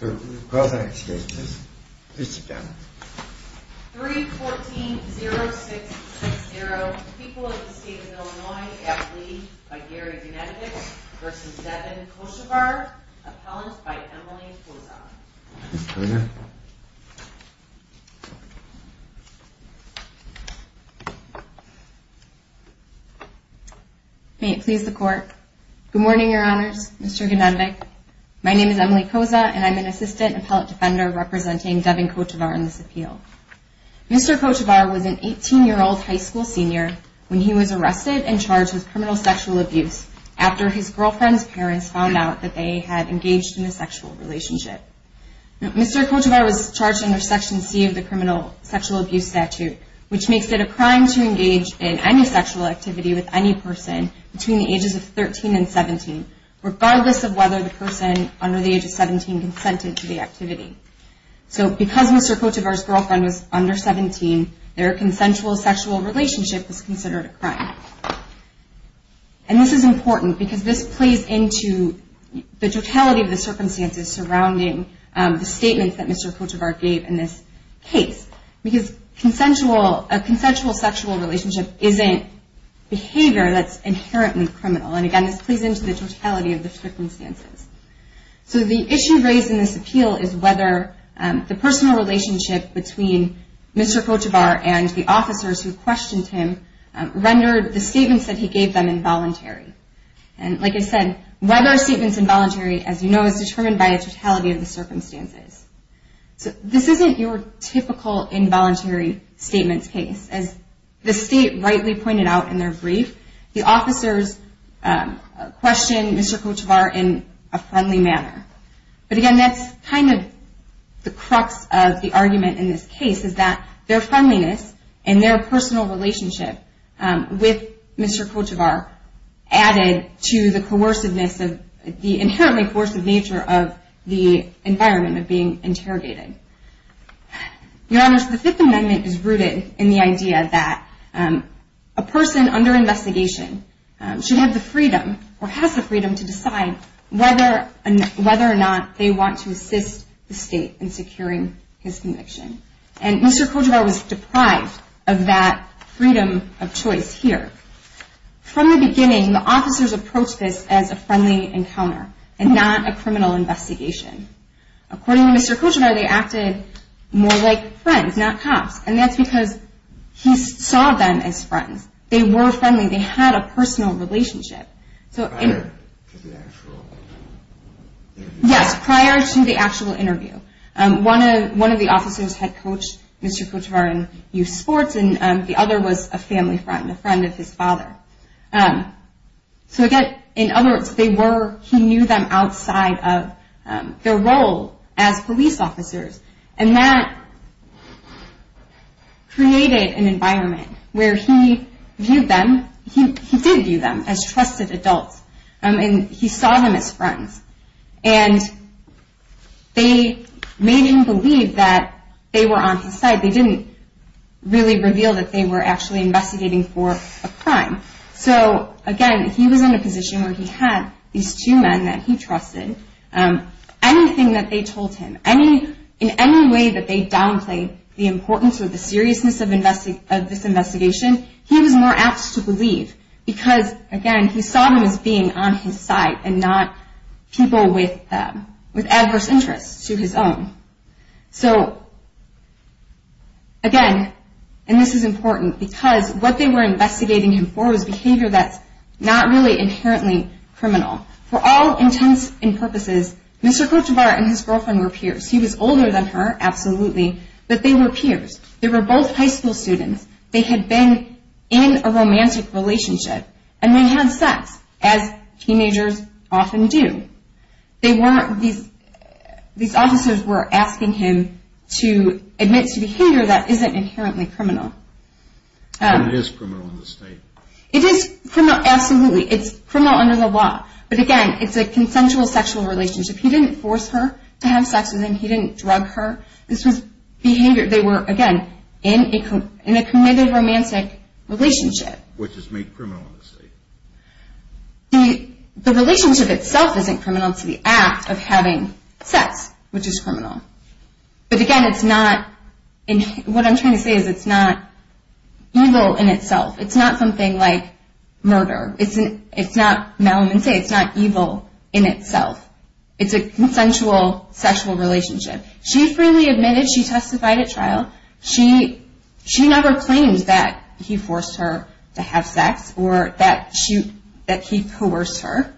3.14.0660 People of the State of Illinois at Lee by Gary Gnadek v. Devin Kochevar Appellant by Emily Koza Good morning, Your Honors. Mr. Gnadek. My name is Emily Koza, and I'm an Assistant Appellant Defender representing Devin Kochevar in this appeal. Mr. Kochevar was an 18-year-old high school senior when he was arrested and charged with criminal sexual abuse after his girlfriend's parents found out that they had engaged in a sexual relationship. Mr. Kochevar was charged under Section C of the Criminal Sexual Abuse Statute, which makes it a crime to engage in any sexual activity with any person between the ages of 13 and 17, regardless of whether the person under the age of 17 consented to the activity. So because Mr. Kochevar's girlfriend was under 17, their consensual sexual relationship was considered a crime. And this is important because this plays into the totality of the circumstances surrounding the statements that Mr. Kochevar gave in this case. Because a consensual sexual relationship isn't behavior that's inherently criminal. And again, this plays into the totality of the circumstances. So the issue raised in this appeal is whether the personal relationship between Mr. Kochevar and the officers who questioned him rendered the statements that he gave them involuntary. And like I said, whether a statement's involuntary, as you know, is determined by the totality of the circumstances. So this isn't your typical involuntary statements case. As the state rightly pointed out in their brief, the officers questioned Mr. Kochevar in a friendly manner. But again, that's kind of the crux of the argument in this case is that their friendliness and their personal relationship with Mr. Kochevar added to the coerciveness of the inherently coercive nature of the environment of being interrogated. Your Honors, the Fifth Amendment is rooted in the idea that a person under investigation should have the freedom or has the freedom to decide whether or not they want to assist the state in securing his conviction. And Mr. Kochevar was deprived of that freedom of choice here. From the beginning, the officers approached this as a friendly encounter and not a criminal investigation. According to Mr. Kochevar, they acted more like friends, not cops. And that's because he saw them as friends. They were friendly. They had a personal relationship. Prior to the actual interview? Yes, prior to the actual interview. One of the officers had coached Mr. Kochevar in youth sports and the other was a family friend, a friend of his father. So again, in other words, they were, he knew them outside of their role as police officers. And that created an environment where he viewed them, he did view them as trusted adults. And he saw them as friends. And they made him believe that they were on his side. They didn't really reveal that they were actually investigating for a crime. So again, he was in a position where he had these two men that he trusted. Anything that they told him, in any way that they downplayed the importance or the seriousness of this investigation, he was more apt to believe. Because again, he saw them as being on his side and not people with adverse interests to his own. So again, and this is important, because what they were investigating him for was behavior that's not really inherently criminal. For all intents and purposes, Mr. Kochevar and his girlfriend were peers. He was older than her, absolutely, but they were peers. They were both high school students. They had been in a romantic relationship. And they had sex, as teenagers often do. They weren't, these officers were asking him to admit to behavior that isn't inherently criminal. And it is criminal in this state. It is criminal, absolutely. It's criminal under the law. But again, it's a consensual sexual relationship. He didn't force her to have sex with him. He didn't drug her. This was behavior, they were, again, in a committed romantic relationship. Which is made criminal in this state. The relationship itself isn't criminal. It's the act of having sex, which is criminal. But again, it's not, what I'm trying to say is it's not evil in itself. It's not something like murder. It's not, Melvin would say, it's not evil in itself. It's a consensual sexual relationship. She freely admitted. She testified at trial. She never claimed that he forced her to have sex or that he coerced her.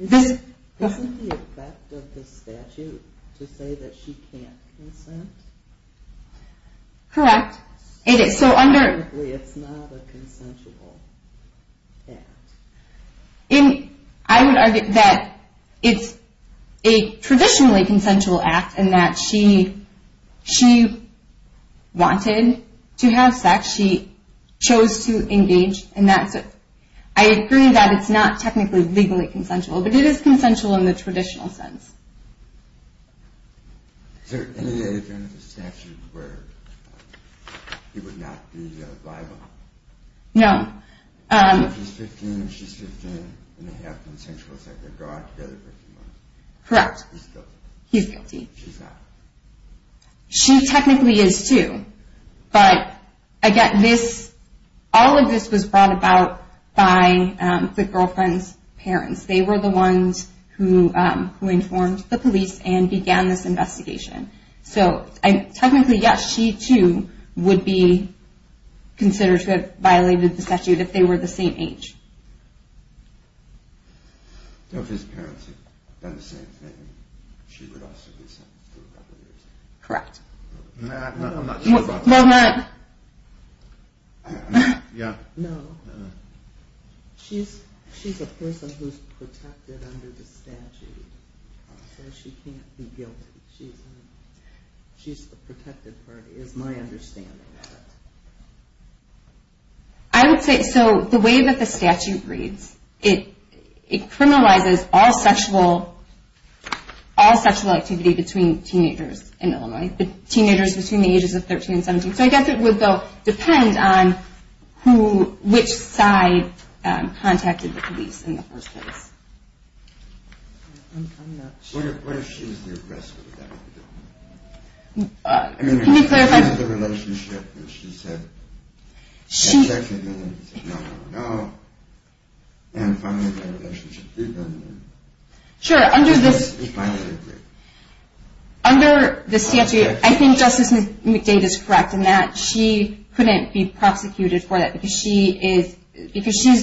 Isn't the effect of the statute to say that she can't consent? Correct. It is. So under. It's not a consensual act. I would argue that it's a traditionally consensual act and that she wanted to have sex. She chose to engage in that. I agree that it's not technically legally consensual, but it is consensual in the traditional sense. Is there any other term in the statute where he would not be liable? No. If he's 15 and she's 15 and they have consensual sex, they're brought together for 15 months. Correct. He's guilty. She's not. She technically is, too. But again, all of this was brought about by the girlfriend's parents. They were the ones who informed the police and began this investigation. So technically, yes, she, too, would be considered to have violated the statute if they were the same age. If his parents had done the same thing, she would also be sentenced to a couple years. Correct. No, I'm not sure about that. No, I'm not. Yeah. No. She's a person who's protected under the statute. So she can't be guilty. She's a protected party is my understanding. I would say so the way that the statute reads, it criminalizes all sexual activity between teenagers in Illinois, teenagers between the ages of 13 and 17. So I guess it would, though, depend on which side contacted the police in the first place. I'm not sure. What if she was the aggressor? Can you clarify? I mean, if she was in the relationship and she said, that's actually the only reason I don't know, and finally that relationship did end. Sure, under the statute, I think Justice McDade is correct in that she couldn't be prosecuted for that because she is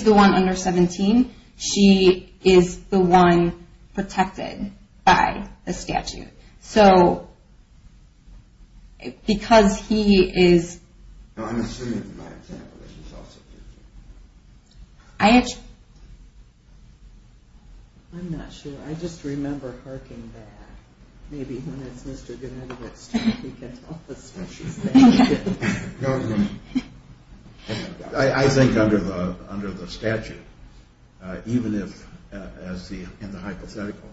the one under 17. She is the one protected by the statute. So because he is. No, I'm assuming by example that he's also guilty. I'm not sure. I just remember hearkening back. Maybe when it's Mr. Gennady that's starting to get all suspicious. I think under the statute, even if, in the hypothetical,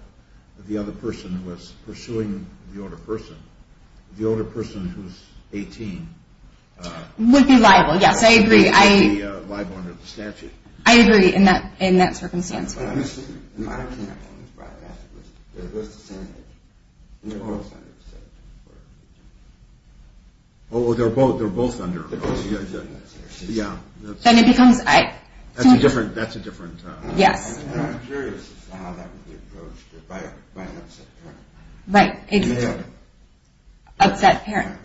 the other person was pursuing the older person, the older person who's 18. Would be liable, yes, I agree. Would be liable under the statute. I agree in that circumstance. I can't think about that. They're both the same age. They're both under 17. Oh, they're both under. Yeah. Then it becomes. That's a different. Yes. I'm curious as to how that would be approached by an upset parent. Right. Male. Upset parent.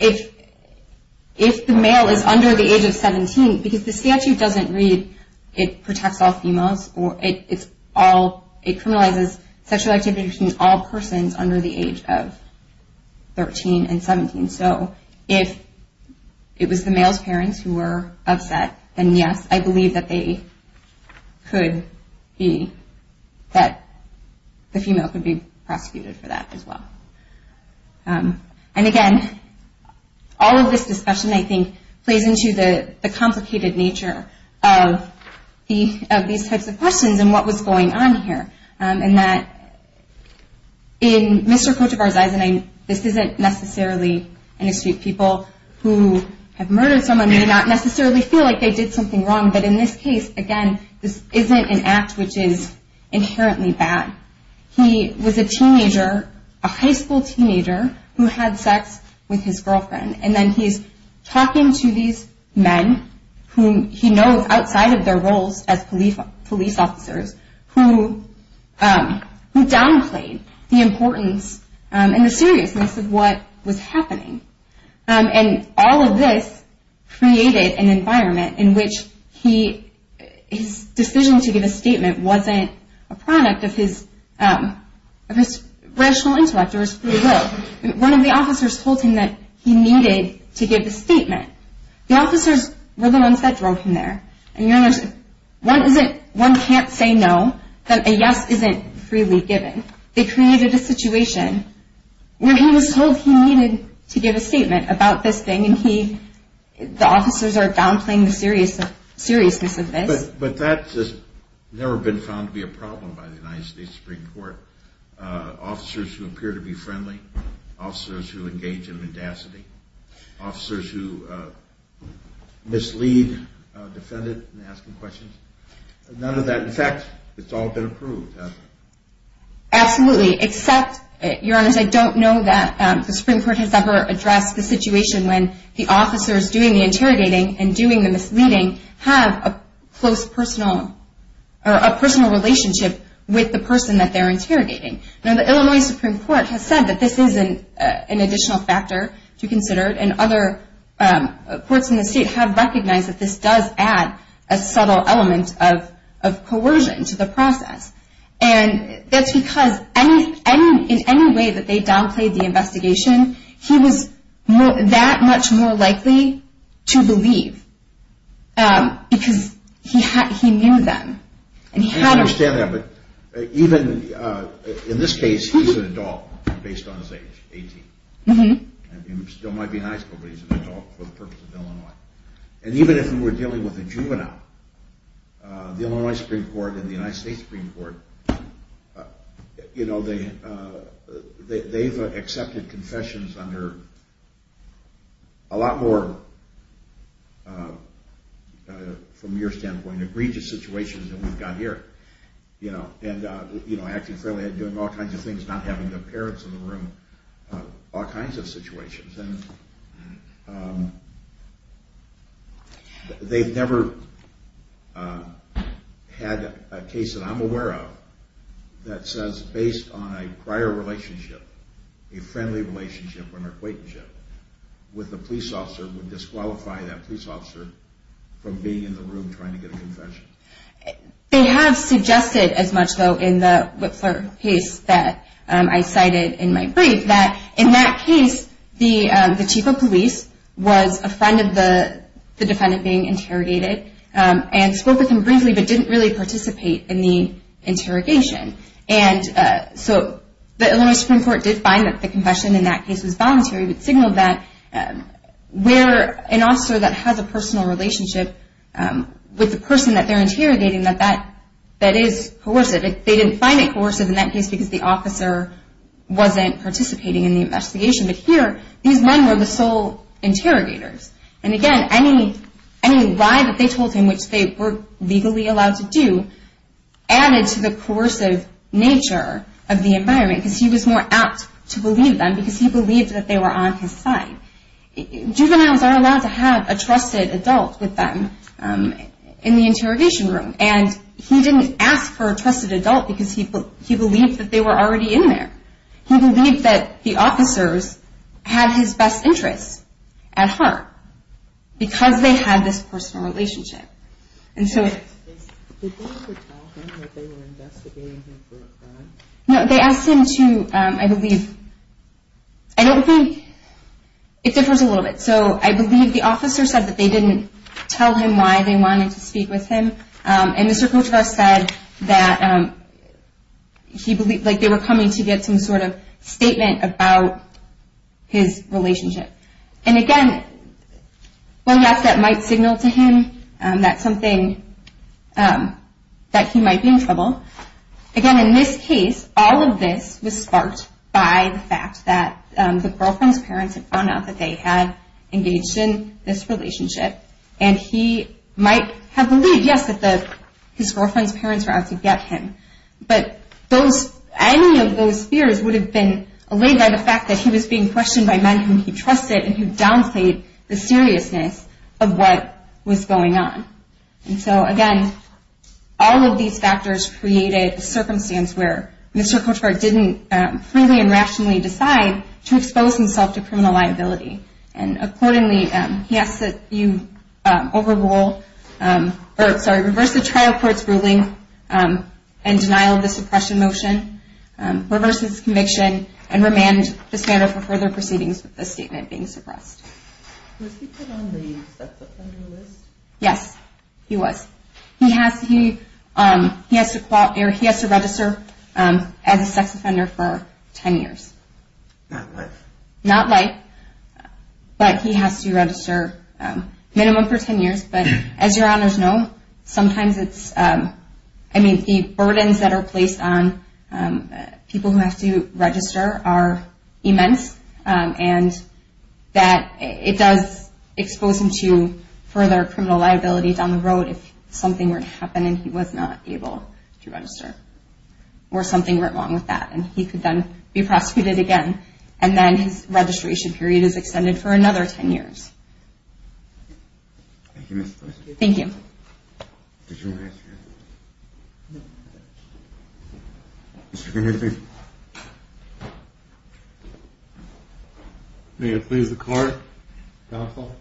If the male is under the age of 17, because the statute doesn't read it protects all females. It criminalizes sexual activity between all persons under the age of 13 and 17. So if it was the male's parents who were upset, then yes, I believe that they could be, that the female could be prosecuted for that as well. And, again, all of this discussion, I think, plays into the complicated nature of these types of questions and what was going on here. And that in Mr. Kotevar's eyes, and this isn't necessarily an issue of people who have murdered someone may not necessarily feel like they did something wrong, but in this case, again, this isn't an act which is inherently bad. He was a teenager, a high school teenager, who had sex with his girlfriend. And then he's talking to these men whom he knows outside of their roles as police officers who downplayed the importance and the seriousness of what was happening. And all of this created an environment in which his decision to give a statement wasn't a product of his rational intellect or his free will. One of the officers told him that he needed to give a statement. The officers were the ones that drove him there. One can't say no, that a yes isn't freely given. They created a situation where he was told he needed to give a statement about this thing, and the officers are downplaying the seriousness of this. But that has never been found to be a problem by the United States Supreme Court. Officers who appear to be friendly, officers who engage in mendacity, officers who mislead defendants in asking questions, none of that. In fact, it's all been approved, hasn't it? Absolutely, except, Your Honors, I don't know that the Supreme Court has ever addressed the situation when the officers doing the interrogating and doing the misleading have a personal relationship with the person that they're interrogating. Now, the Illinois Supreme Court has said that this is an additional factor to consider, and other courts in the state have recognized that this does add a subtle element of coercion to the process. And that's because in any way that they downplayed the investigation, he was that much more likely to believe because he knew them. I understand that, but even in this case, he's an adult based on his age, 18. He still might be in high school, but he's an adult for the purpose of Illinois. And even if we were dealing with a juvenile, the Illinois Supreme Court and the United States Supreme Court, they've accepted confessions under a lot more, from your standpoint, egregious situations than we've got here. And acting fairly, doing all kinds of things, not having their parents in the room, all kinds of situations. They've never had a case that I'm aware of that says based on a prior relationship, a friendly relationship or an acquaintanceship with a police officer would disqualify that police officer from being in the room trying to get a confession. They have suggested as much, though, in the Whitler case that I cited in my brief, that in that case, the chief of police was a friend of the defendant being interrogated and spoke with him briefly but didn't really participate in the interrogation. And so the Illinois Supreme Court did find that the confession in that case was voluntary, but signaled that where an officer that has a personal relationship with the person that they're interrogating, that that is coercive. They didn't find it coercive in that case because the officer wasn't participating in the investigation. But here, these men were the sole interrogators. And again, any lie that they told him, which they were legally allowed to do, added to the coercive nature of the environment because he was more apt to believe them because he believed that they were on his side. Juveniles are allowed to have a trusted adult with them in the interrogation room. And he didn't ask for a trusted adult because he believed that they were already in there. He believed that the officers had his best interests at heart because they had this personal relationship. Did they ever tell him that they were investigating him for a crime? No, they asked him to, I believe, I don't think, it differs a little bit. So I believe the officer said that they didn't tell him why they wanted to speak with him. And Mr. Cotras said that they were coming to get some sort of statement about his relationship. And again, well, yes, that might signal to him that he might be in trouble. Again, in this case, all of this was sparked by the fact that the girlfriend's parents had found out that they had engaged in this relationship. And he might have believed, yes, that his girlfriend's parents were out to get him. But any of those fears would have been allayed by the fact that he was being questioned by men whom he trusted and who downplayed the seriousness of what was going on. And so, again, all of these factors created a circumstance where Mr. Cotras didn't freely and rationally decide to expose himself to criminal liability. And accordingly, he asked that you reverse the trial court's ruling and denial of the suppression motion, reverse his conviction, and remand the spender for further proceedings with the statement being suppressed. Was he put on the sex offender list? Yes, he was. He has to register as a sex offender for 10 years. Not life? Not life, but he has to register minimum for 10 years. But as your honors know, sometimes it's, I mean, the burdens that are placed on people who have to register are immense and that it does expose him to further criminal liability down the road if something were to happen and he was not able to register or something went wrong with that. And he could then be prosecuted again. And then his registration period is extended for another 10 years. Thank you, Mr. Cotras. Thank you. Did you want to answer anything? No. Mr. Kennedy? May it please the court, counsel?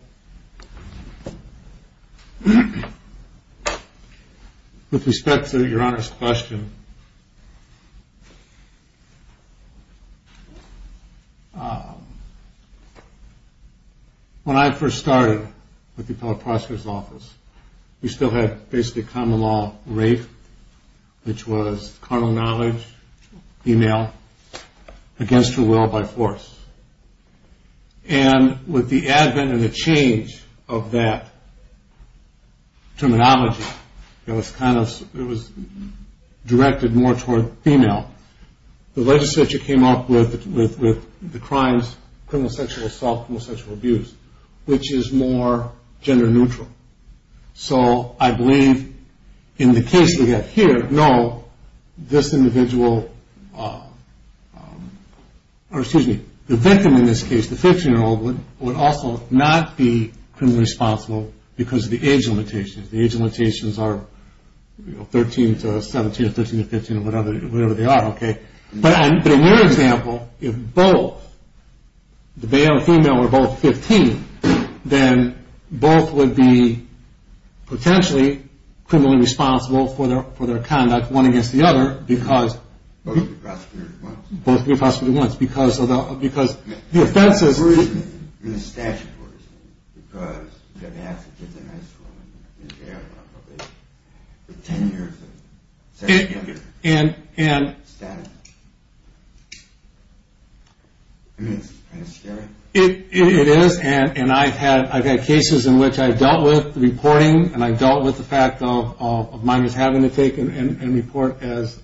With respect to your honors' question, when I first started with the Appellate Prosecutor's Office, we still had basically common law rape, which was carnal knowledge, female, against her will by force. And with the advent and the change of that terminology, it was directed more toward female. The legislature came up with the crimes, criminal sexual assault, criminal sexual abuse, which is more gender neutral. So I believe in the case we have here, no, this individual, or excuse me, the victim in this case, the 15-year-old, would also not be criminally responsible because of the age limitations. The age limitations are 13 to 17, 13 to 15, whatever they are, okay? But in your example, if both, the male and female, were both 15, then both would be potentially criminally responsible for their conduct, one against the other, because... Both would be prosecuted at once. Both would be prosecuted at once, because the offense is... And the statute works, because you have to have to get them out of school, and you have to have the 10 years of sexual abuse status. I mean, it's kind of scary. It is, and I've had cases in which I've dealt with the reporting, and I've dealt with the fact of minors having to take and report as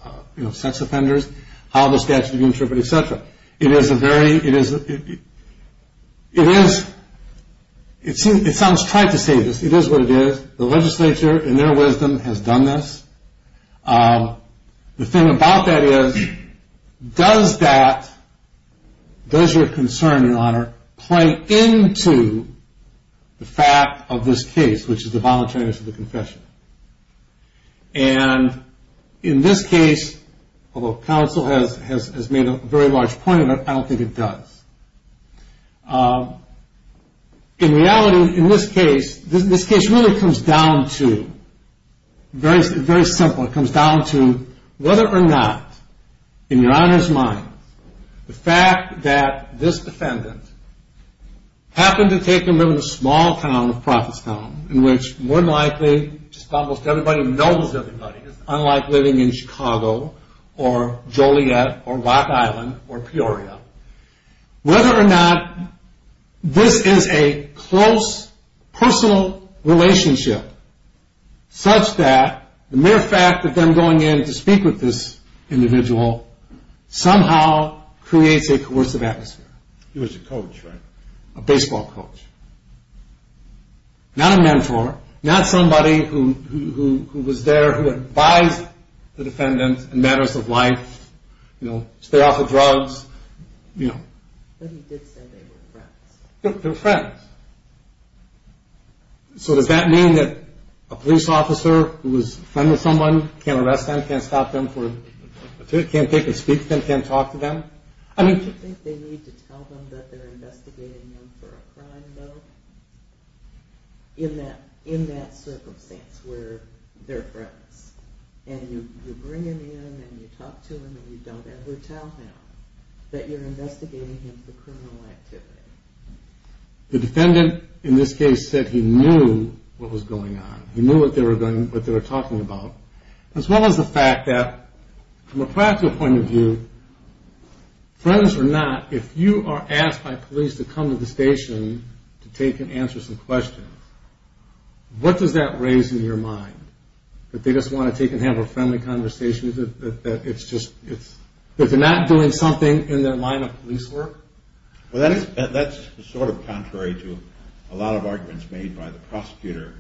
sex offenders, how the statute is interpreted, et cetera. It is a very... It is... It sounds trite to say this. It is what it is. The legislature, in their wisdom, has done this. The thing about that is, does that, does your concern and honor, play into the fact of this case, which is the voluntariness of the confession? And in this case, although counsel has made a very large point of it, I don't think it does. In reality, in this case, this case really comes down to, very simple, it comes down to whether or not, in your honor's mind, the fact that this defendant happened to take a room in a small town, a prophet's town, in which, more than likely, just about everybody knows everybody, unlike living in Chicago, or Joliet, or Rock Island, or Peoria, whether or not this is a close, personal relationship, such that the mere fact of them going in to speak with this individual, somehow creates a coercive atmosphere. He was a coach, right? A baseball coach. Not a mentor. Not somebody who was there, who advised the defendant in matters of life, you know, stay off of drugs, you know. But he did say they were friends. They were friends. So does that mean that a police officer who was friends with someone, can't arrest them, can't stop them, can't speak to them, can't talk to them? Do you think they need to tell them that they're investigating them for a crime, though? In that circumstance, where they're friends. And you bring him in, and you talk to him, and you don't ever tell him that you're investigating him for criminal activity. The defendant, in this case, said he knew what was going on. He knew what they were talking about, as well as the fact that, from a practical point of view, friends or not, if you are asked by police to come to the station to take and answer some questions, what does that raise in your mind? That they just want to take and have a friendly conversation? That it's just, that they're not doing something in their line of police work? Well, that's sort of contrary to a lot of arguments made by the prosecutor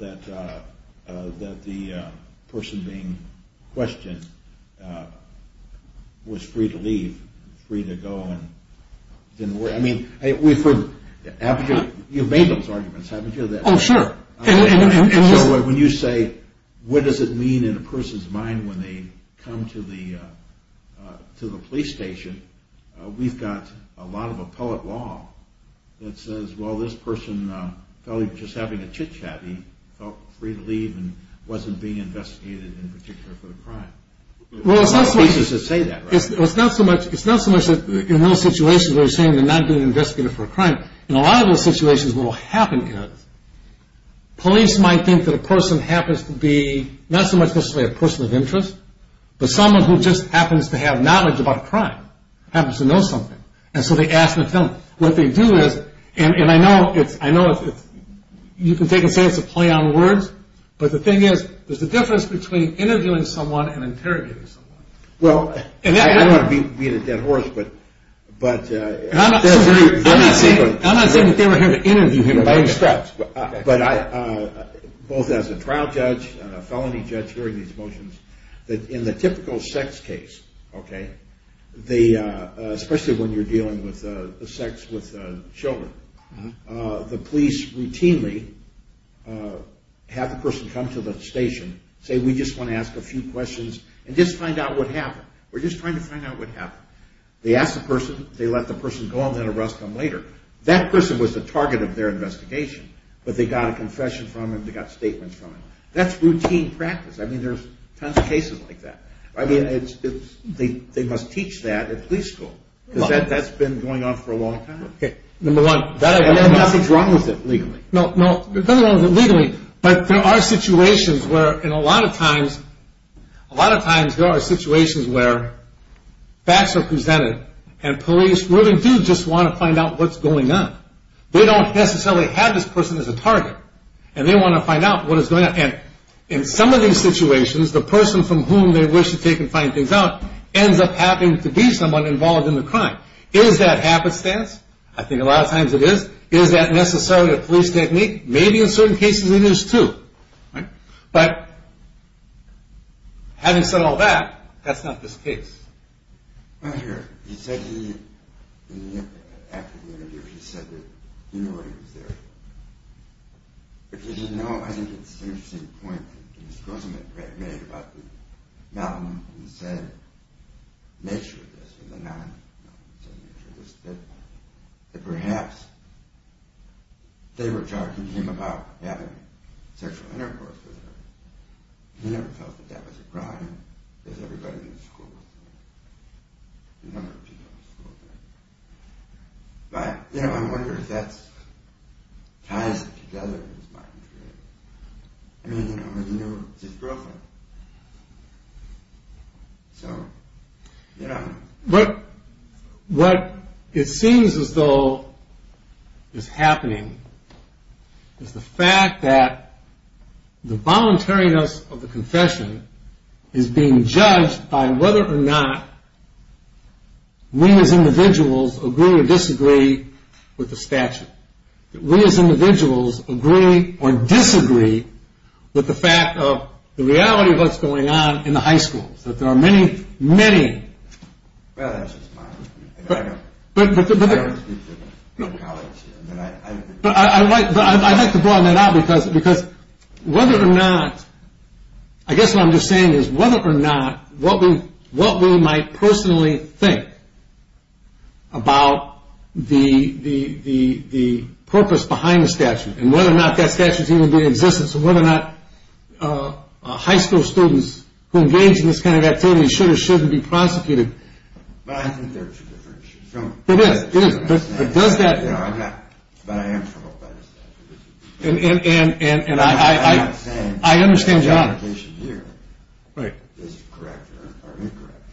that the person being questioned was free to leave, free to go. I mean, you've made those arguments, haven't you? Oh, sure. And so when you say, what does it mean in a person's mind when they come to the police station, we've got a lot of appellate law that says, well, this person felt he was just having a chit-chat. He felt free to leave and wasn't being investigated in particular for the crime. Well, it's not so much that in those situations where you're saying they're not being investigated for a crime, in a lot of those situations what will happen is police might think that a person happens to be not so much necessarily a person of interest, but someone who just happens to have knowledge about a crime, happens to know something. And so they ask the felon. What they do is, and I know you can take a stance to play on words, but the thing is there's a difference between interviewing someone and interrogating someone. Well, I don't want to be the dead horse, but... I'm not saying that they were here to interview him. But both as a trial judge and a felony judge hearing these motions, that in the typical sex case, okay, especially when you're dealing with sex with children, the police routinely have the person come to the station, say, we just want to ask a few questions and just find out what happened. We're just trying to find out what happened. They ask the person, they let the person go, and then arrest them later. That person was the target of their investigation, but they got a confession from him, they got statements from him. That's routine practice. I mean, there's tons of cases like that. I mean, they must teach that at police school. That's been going on for a long time? Okay, number one... And then nothing's wrong with it legally? No, nothing's wrong with it legally, but there are situations where, and a lot of times, a lot of times there are situations where facts are presented and police really do just want to find out what's going on. They don't necessarily have this person as a target, and they want to find out what is going on. And in some of these situations, the person from whom they wish to take and find things out ends up happening to be someone involved in the crime. Is that happenstance? I think a lot of times it is. Is that necessarily a police technique? Maybe in certain cases it is, too. But having said all that, that's not this case. Well, here, he said he, after the interview, he said that he knew why he was there. But did he know? I think it's an interesting point that Ms. Grossman made about the malignant nature of this, or the non-malignant nature of this, that perhaps they were talking to him about having sexual intercourse with her. He never felt that that was a crime, because everybody in the school, a number of people in the school did. But, you know, I wonder if that ties it together, in his mind, really. I mean, you know, it's his girlfriend. So, you know. What it seems as though is happening is the fact that the voluntariness of the confession is being judged by whether or not we, as individuals, agree or disagree with the statute. That we, as individuals, agree or disagree with the fact of the reality of what's going on in the high schools. That there are many, many... Well, that's just my opinion. I don't speak for the college. But I'd like to broaden that out, because whether or not... I guess what I'm just saying is whether or not what we might personally think about the purpose behind the statute, and whether or not that statute is even in existence, and whether or not high school students who engage in this kind of activity should or shouldn't be prosecuted. But I think there's a difference. It is. It is. But does that... But I am troubled by the statute. And I... I understand John. Right.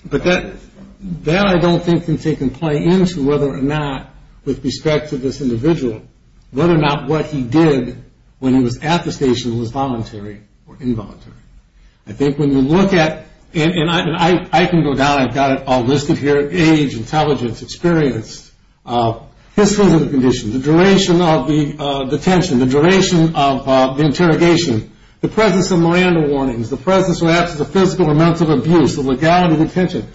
But that I don't think can take in play into whether or not, with respect to this individual, whether or not what he did when he was at the station was voluntary or involuntary. I think when you look at... And I can go down. I've got it all listed here. Age, intelligence, experience, history of the condition, the duration of the detention, the duration of the interrogation, the presence of Miranda warnings, the presence or absence of physical or mental abuse, the legality of detention.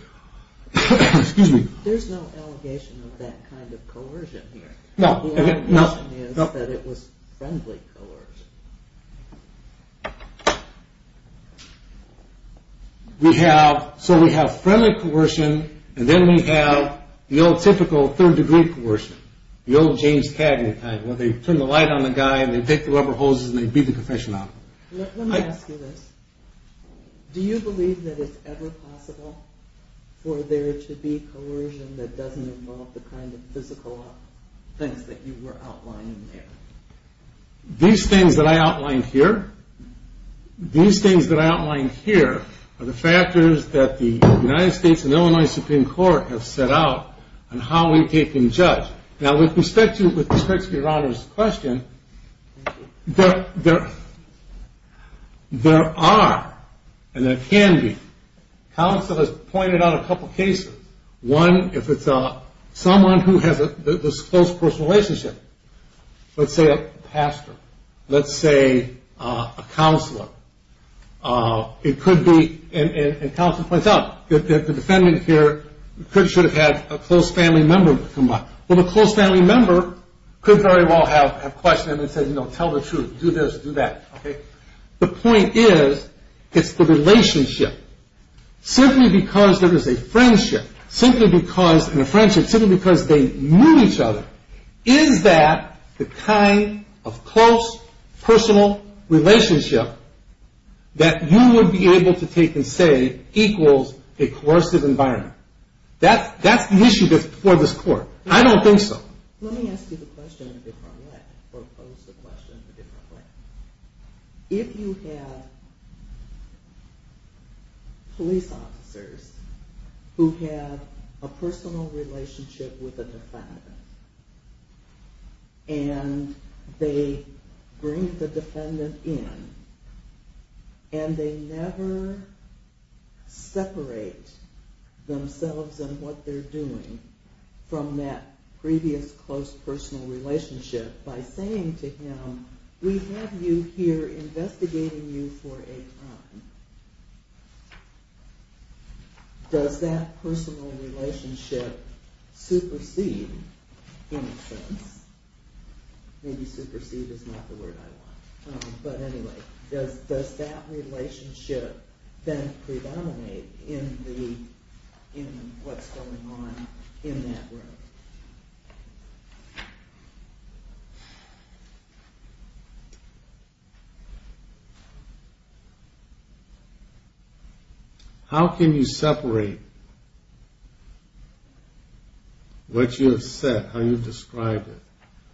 Excuse me. There's no allegation of that kind of coercion here. No. The allegation is that it was friendly coercion. We have... So we have friendly coercion, and then we have the old typical third-degree coercion, the old James Cagney kind, where they turn the light on the guy and they take the rubber hoses and they beat the confession out of him. Let me ask you this. Do you believe that it's ever possible for there to be coercion that doesn't involve the kind of physical things that you were outlining there? These things that I outlined here... These things that I outlined here are the factors that the United States and Illinois Supreme Court have set out on how we take and judge. Now, with respect to Your Honor's question, there are and there can be... Counsel has pointed out a couple cases. One, if it's someone who has this close personal relationship, let's say a pastor, let's say a counselor, it could be... And counsel points out that the defendant here should have had a close family member come by. Well, the close family member could very well have questioned him and said, you know, tell the truth, do this, do that, okay? The point is, it's the relationship. Simply because there is a friendship, simply because... And a friendship, simply because they knew each other. Is that the kind of close personal relationship that you would be able to take and say equals a coercive environment? That's the issue for this court. I don't think so. Let me ask you the question in a different way, or pose the question in a different way. If you have police officers who have a personal relationship with a defendant and they bring the defendant in and they never separate themselves and what they're doing from that previous close personal relationship by saying to him, we have you here investigating you for a time. Does that personal relationship supersede in a sense? Maybe supersede is not the word I want. But anyway, does that relationship then predominate in what's going on in that room? How can you separate what you have said, how you've described it?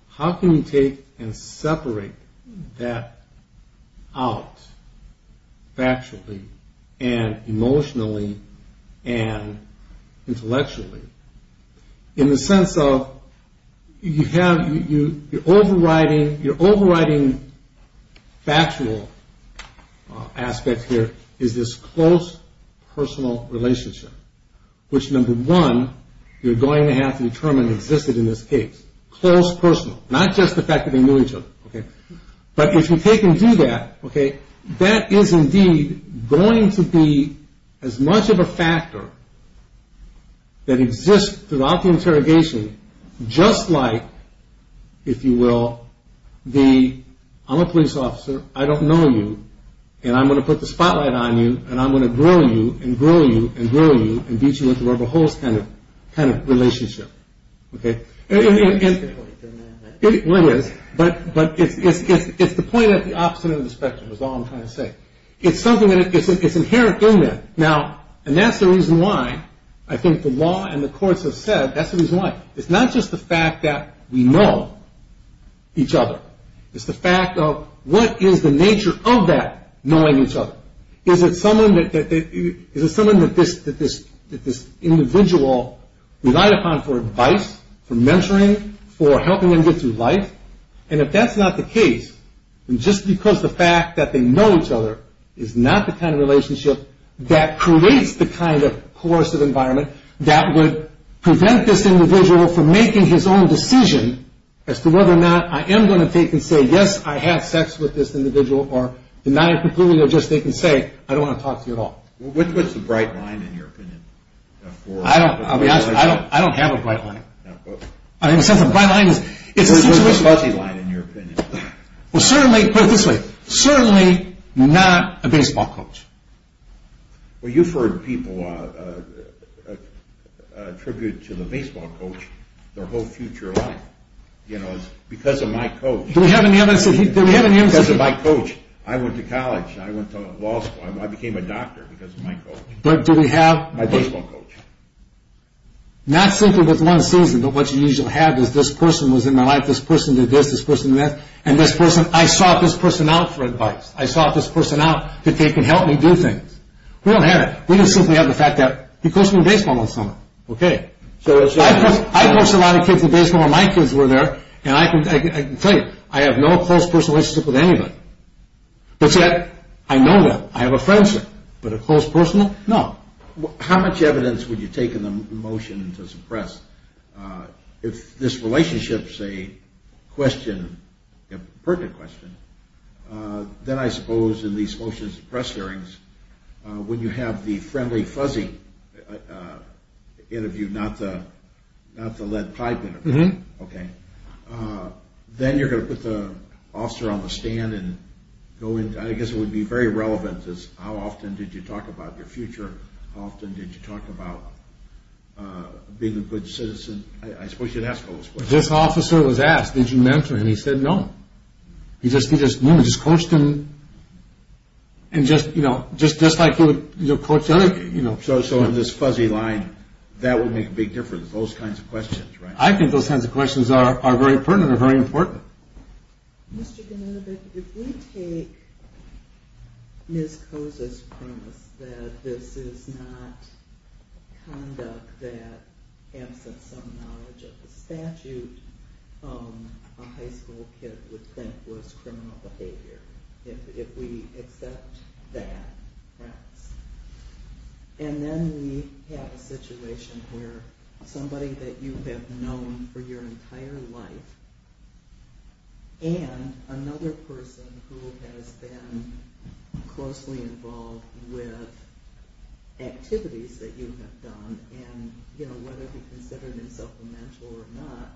How can you take and separate that out factually and emotionally and intellectually? In the sense of you're overriding factual aspects here is this close personal relationship, which number one, you're going to have to determine existed in this case. Close personal. Not just the fact that they knew each other. But if you take and do that, that is indeed going to be as much of a factor that exists throughout the interrogation just like, if you will, the I'm a police officer, I don't know you, and I'm going to put the spotlight on you and I'm going to grill you and grill you and grill you and beat you into rubber holes kind of relationship. It's the point at the opposite end of the spectrum is all I'm trying to say. It's inherent in there. Now, and that's the reason why I think the law and the courts have said that's the reason why. It's not just the fact that we know each other. It's the fact of what is the nature of that knowing each other. Is it someone that this individual relied upon for advice, for mentoring, for helping them get through life? And if that's not the case, just because the fact that they know each other is not the kind of relationship that creates the kind of coercive environment that would prevent this individual from making his own decision as to whether or not I am going to take and say yes, I have sex with this individual or deny it completely or just take and say I don't want to talk to you at all. What's the bright line in your opinion? I don't have a bright line. What's the fuzzy line in your opinion? Put it this way. Certainly not a baseball coach. Well, you've heard people attribute to the baseball coach their whole future life. Because of my coach. Do we have any evidence that he... Because of my coach. I went to college. I went to law school. I became a doctor because of my coach. But do we have... My baseball coach. Not simply with one season, but what you usually have is this person was in my life, this person did this, this person did that, and this person... I sought this person out for advice. I sought this person out that they can help me do things. We don't have it. We just simply have the fact that he coached me in baseball one summer. I coached a lot of kids in baseball when my kids were there. And I can tell you, I have no close personal relationship with anybody. But yet, I know that. I have a friendship. But a close personal? No. How much evidence would you take in the motion to suppress? If this relationship's a question, a pertinent question, then I suppose in these motions and press hearings, when you have the friendly, fuzzy interview, not the lead pipe interview, then you're going to put the officer on the stand and go into... I guess it would be very relevant, how often did you talk about your future? How often did you talk about being a good citizen? I suppose you'd ask those questions. This officer was asked, did you mentor him? He said no. He just coached him. Just like you would coach other... So in this fuzzy line, that would make a big difference, those kinds of questions, right? I think those kinds of questions are very pertinent, are very important. Mr. Ganinovic, if we take Ms. Koza's premise that this is not conduct that, absent some knowledge of the statute, a high school kid would think was criminal behavior, if we accept that premise. And then we have a situation where somebody that you have known for your entire life and another person who has been closely involved with activities that you have done, and whether he considered himself a mentor or not,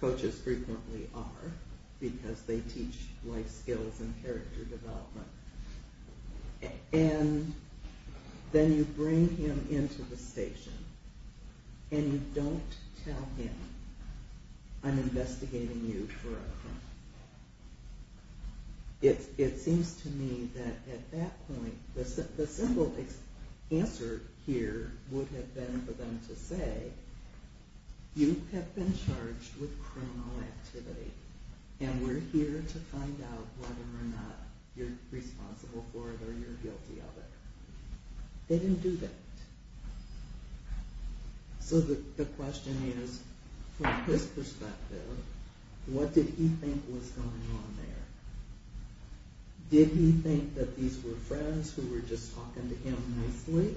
coaches frequently are because they teach life skills and character development. And then you bring him into the station and you don't tell him, I'm investigating you for a crime. It seems to me that at that point, the simple answer here would have been for them to say, you have been charged with criminal activity and we're here to find out whether or not you're responsible for it or you're guilty of it. They didn't do that. So the question is, from his perspective, what did he think was going on there? Did he think that these were friends who were just talking to him nicely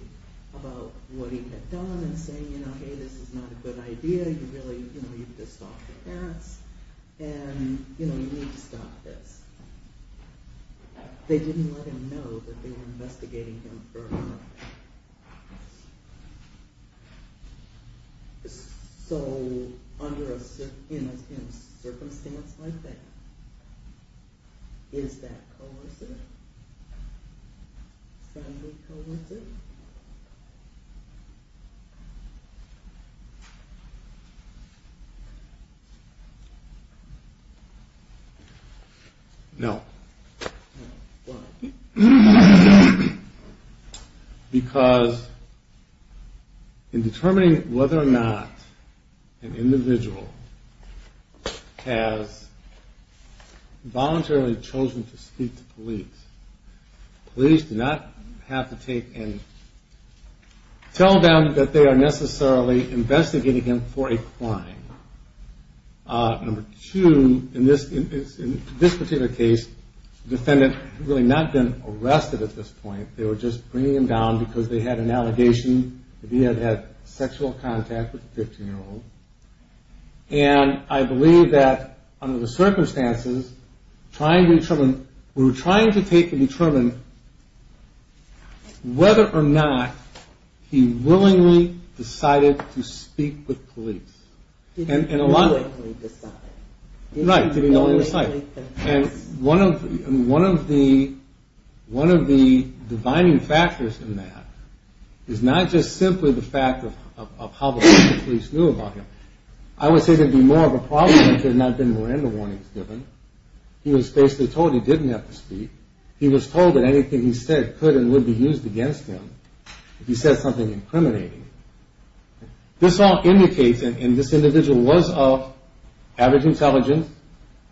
about what he had done and saying, hey, this is not a good idea, you need to stop the parents, and you need to stop this. They didn't let him know that they were investigating him for a crime. So in a circumstance like that, is that coercive? Friendly coercive? No. Because in determining whether or not an individual has voluntarily chosen to speak to police, police do not have to take and tell them that they are necessarily investigating him for a crime. Number two, in this particular case, the defendant had really not been arrested at this point, they were just bringing him down because they had an allegation that he had had sexual contact with a 15-year-old. And I believe that under the circumstances, we were trying to take and determine whether or not he willingly decided to speak with police. He didn't willingly decide. Right, he didn't willingly decide. And one of the divining factors in that is not just simply the fact of how the police knew about him. I would say there'd be more of a problem if there had not been Miranda warnings given. He was basically told he didn't have to speak. He was told that anything he said could and would be used against him if he said something incriminating. This all indicates, and this individual was of average intelligence,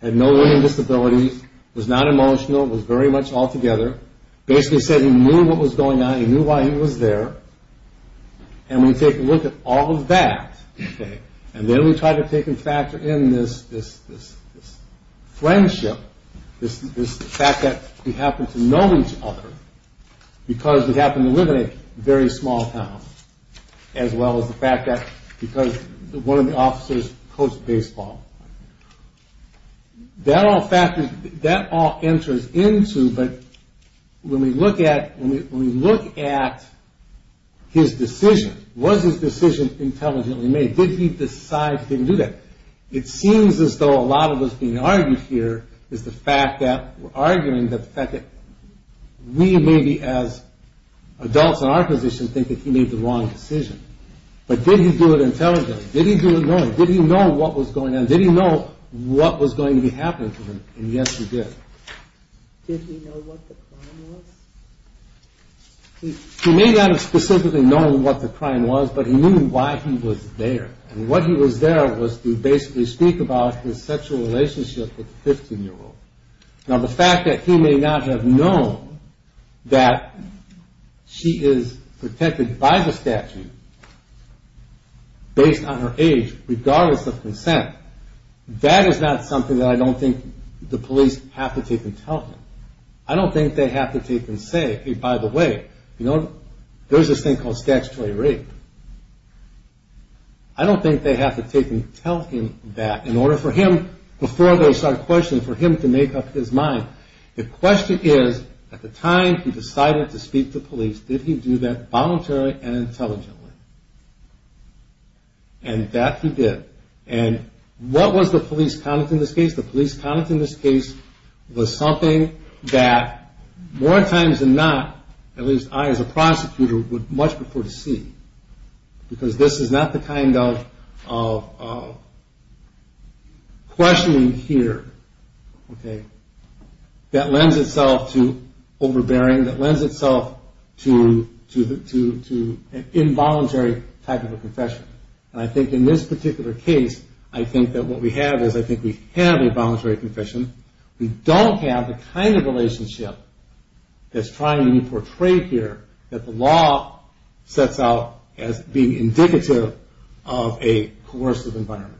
had no learning disabilities, was not emotional, was very much all together. Basically said he knew what was going on, he knew why he was there. And we take a look at all of that, and then we try to take and factor in this friendship, this fact that we happen to know each other because we happen to live in a very small town. As well as the fact that because one of the officers coached baseball. That all factors, that all enters into, but when we look at his decision, was his decision intelligently made? Did he decide he didn't do that? It seems as though a lot of what's being argued here is the fact that we're arguing the fact that we maybe as adults in our position think that he made the wrong decision. But did he do it intelligently? Did he do it knowing? Did he know what was going on? Did he know what was going to be happening to him? And yes he did. Did he know what the crime was? He may not have specifically known what the crime was, but he knew why he was there. And what he was there was to basically speak about his sexual relationship with the 15 year old. Now the fact that he may not have known that she is protected by the statute based on her age, regardless of consent, that is not something that I don't think the police have to take intelligently. I don't think they have to take and say, hey by the way, you know, there's this thing called statutory rape. I don't think they have to take and tell him that in order for him, before they start questioning, for him to make up his mind. The question is, at the time he decided to speak to police, did he do that voluntarily and intelligently? And that he did. And what was the police conduct in this case? The police conduct in this case was something that more times than not, at least I as a prosecutor, would much prefer to see. Because this is not the kind of questioning here. That lends itself to overbearing. That lends itself to an involuntary type of a confession. And I think in this particular case, I think that what we have is, I think we have a voluntary confession. We don't have the kind of relationship that's trying to be portrayed here that the law sets out as being indicative of a coercive environment.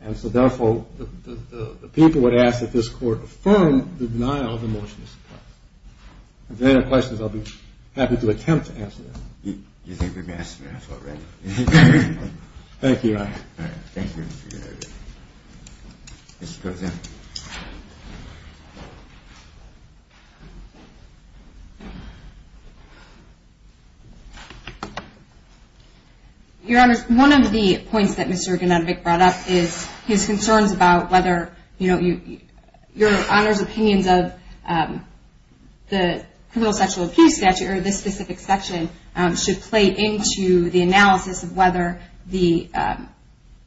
And so therefore, the people would ask that this court affirm the denial of the motion of this case. If there are any questions, I'll be happy to attempt to answer them. You think we've asked enough already? Thank you, Your Honor. Thank you. Thank you. Your Honor, one of the points that Mr. Ganodovic brought up is his concerns about whether, you know, Your Honor's opinions of the criminal sexual abuse statute or this specific section should play into the analysis of whether the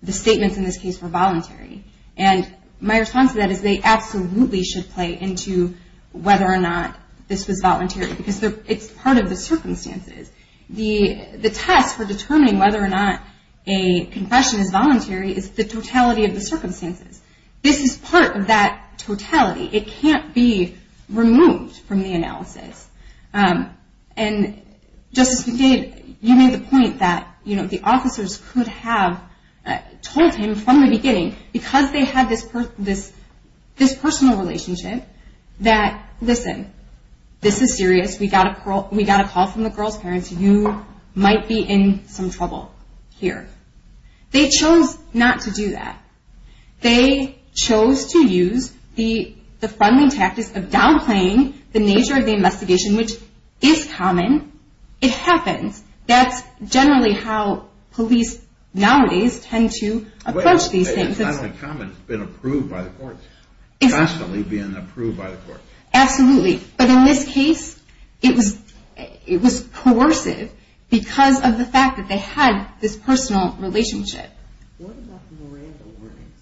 statements in this case were voluntary. And my response to that is they absolutely should play into whether or not this was voluntary because it's part of the circumstances. The test for determining whether or not a confession is voluntary is the totality of the circumstances. This is part of that totality. It can't be removed from the analysis. And Justice McFadden, you made the point that, you know, the officers could have told him from the beginning because they had this personal relationship that, listen, this is serious. We got a call from the girl's parents. You might be in some trouble here. They chose not to do that. They chose to use the funding tactics of downplaying the nature of the situation, which is common. It happens. That's generally how police nowadays tend to approach these things. It's not uncommon. It's been approved by the courts, constantly being approved by the courts. Absolutely. But in this case, it was coercive because of the fact that they had this personal relationship. What about the Miranda warnings?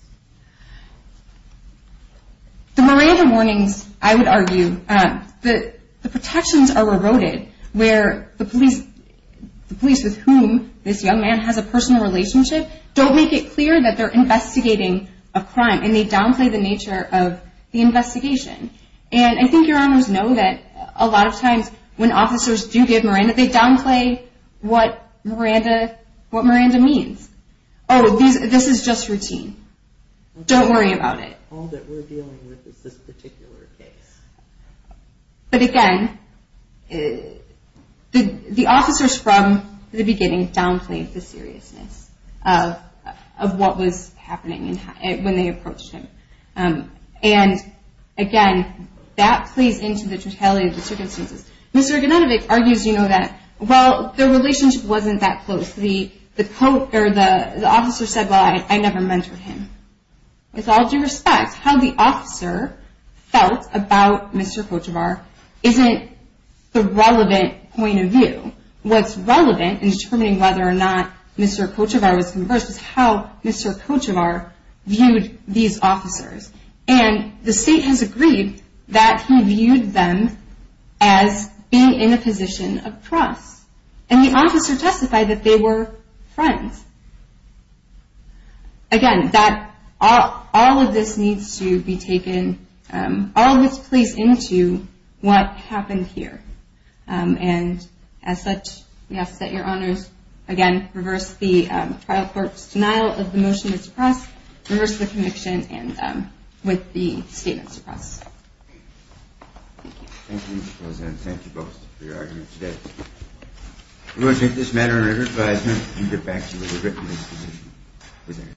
The Miranda warnings, I would argue, the protections are eroded where the police, the police with whom this young man has a personal relationship, don't make it clear that they're investigating a crime and they downplay the nature of the investigation. And I think your Honors know that a lot of times when officers do give Miranda, they downplay what Miranda means. Oh, this is just routine. Don't worry about it. All that we're dealing with is this particular case. But, again, the officers from the beginning downplayed the seriousness of what was happening when they approached him. And, again, that plays into the totality of the circumstances. Mr. Gnodovic argues, you know, that, well, their relationship wasn't that close. The officer said, well, I never mentored him. With all due respect, how the officer felt about Mr. Kochevar isn't the relevant point of view. What's relevant in determining whether or not Mr. Kochevar was conversed is how Mr. Kochevar viewed these officers. And the state has agreed that he viewed them as being in a position of trust. And the officer testified that they were friends. Again, all of this needs to be taken, all of this plays into what happened here. And, as such, we ask that your honors, again, reverse the trial court's denial of the motion to suppress, reverse the conviction with the statement suppressed. Thank you. Thank you, Mr. President. Thank you both for your arguments today. We will take this matter under advisement and get back to you with a written decision.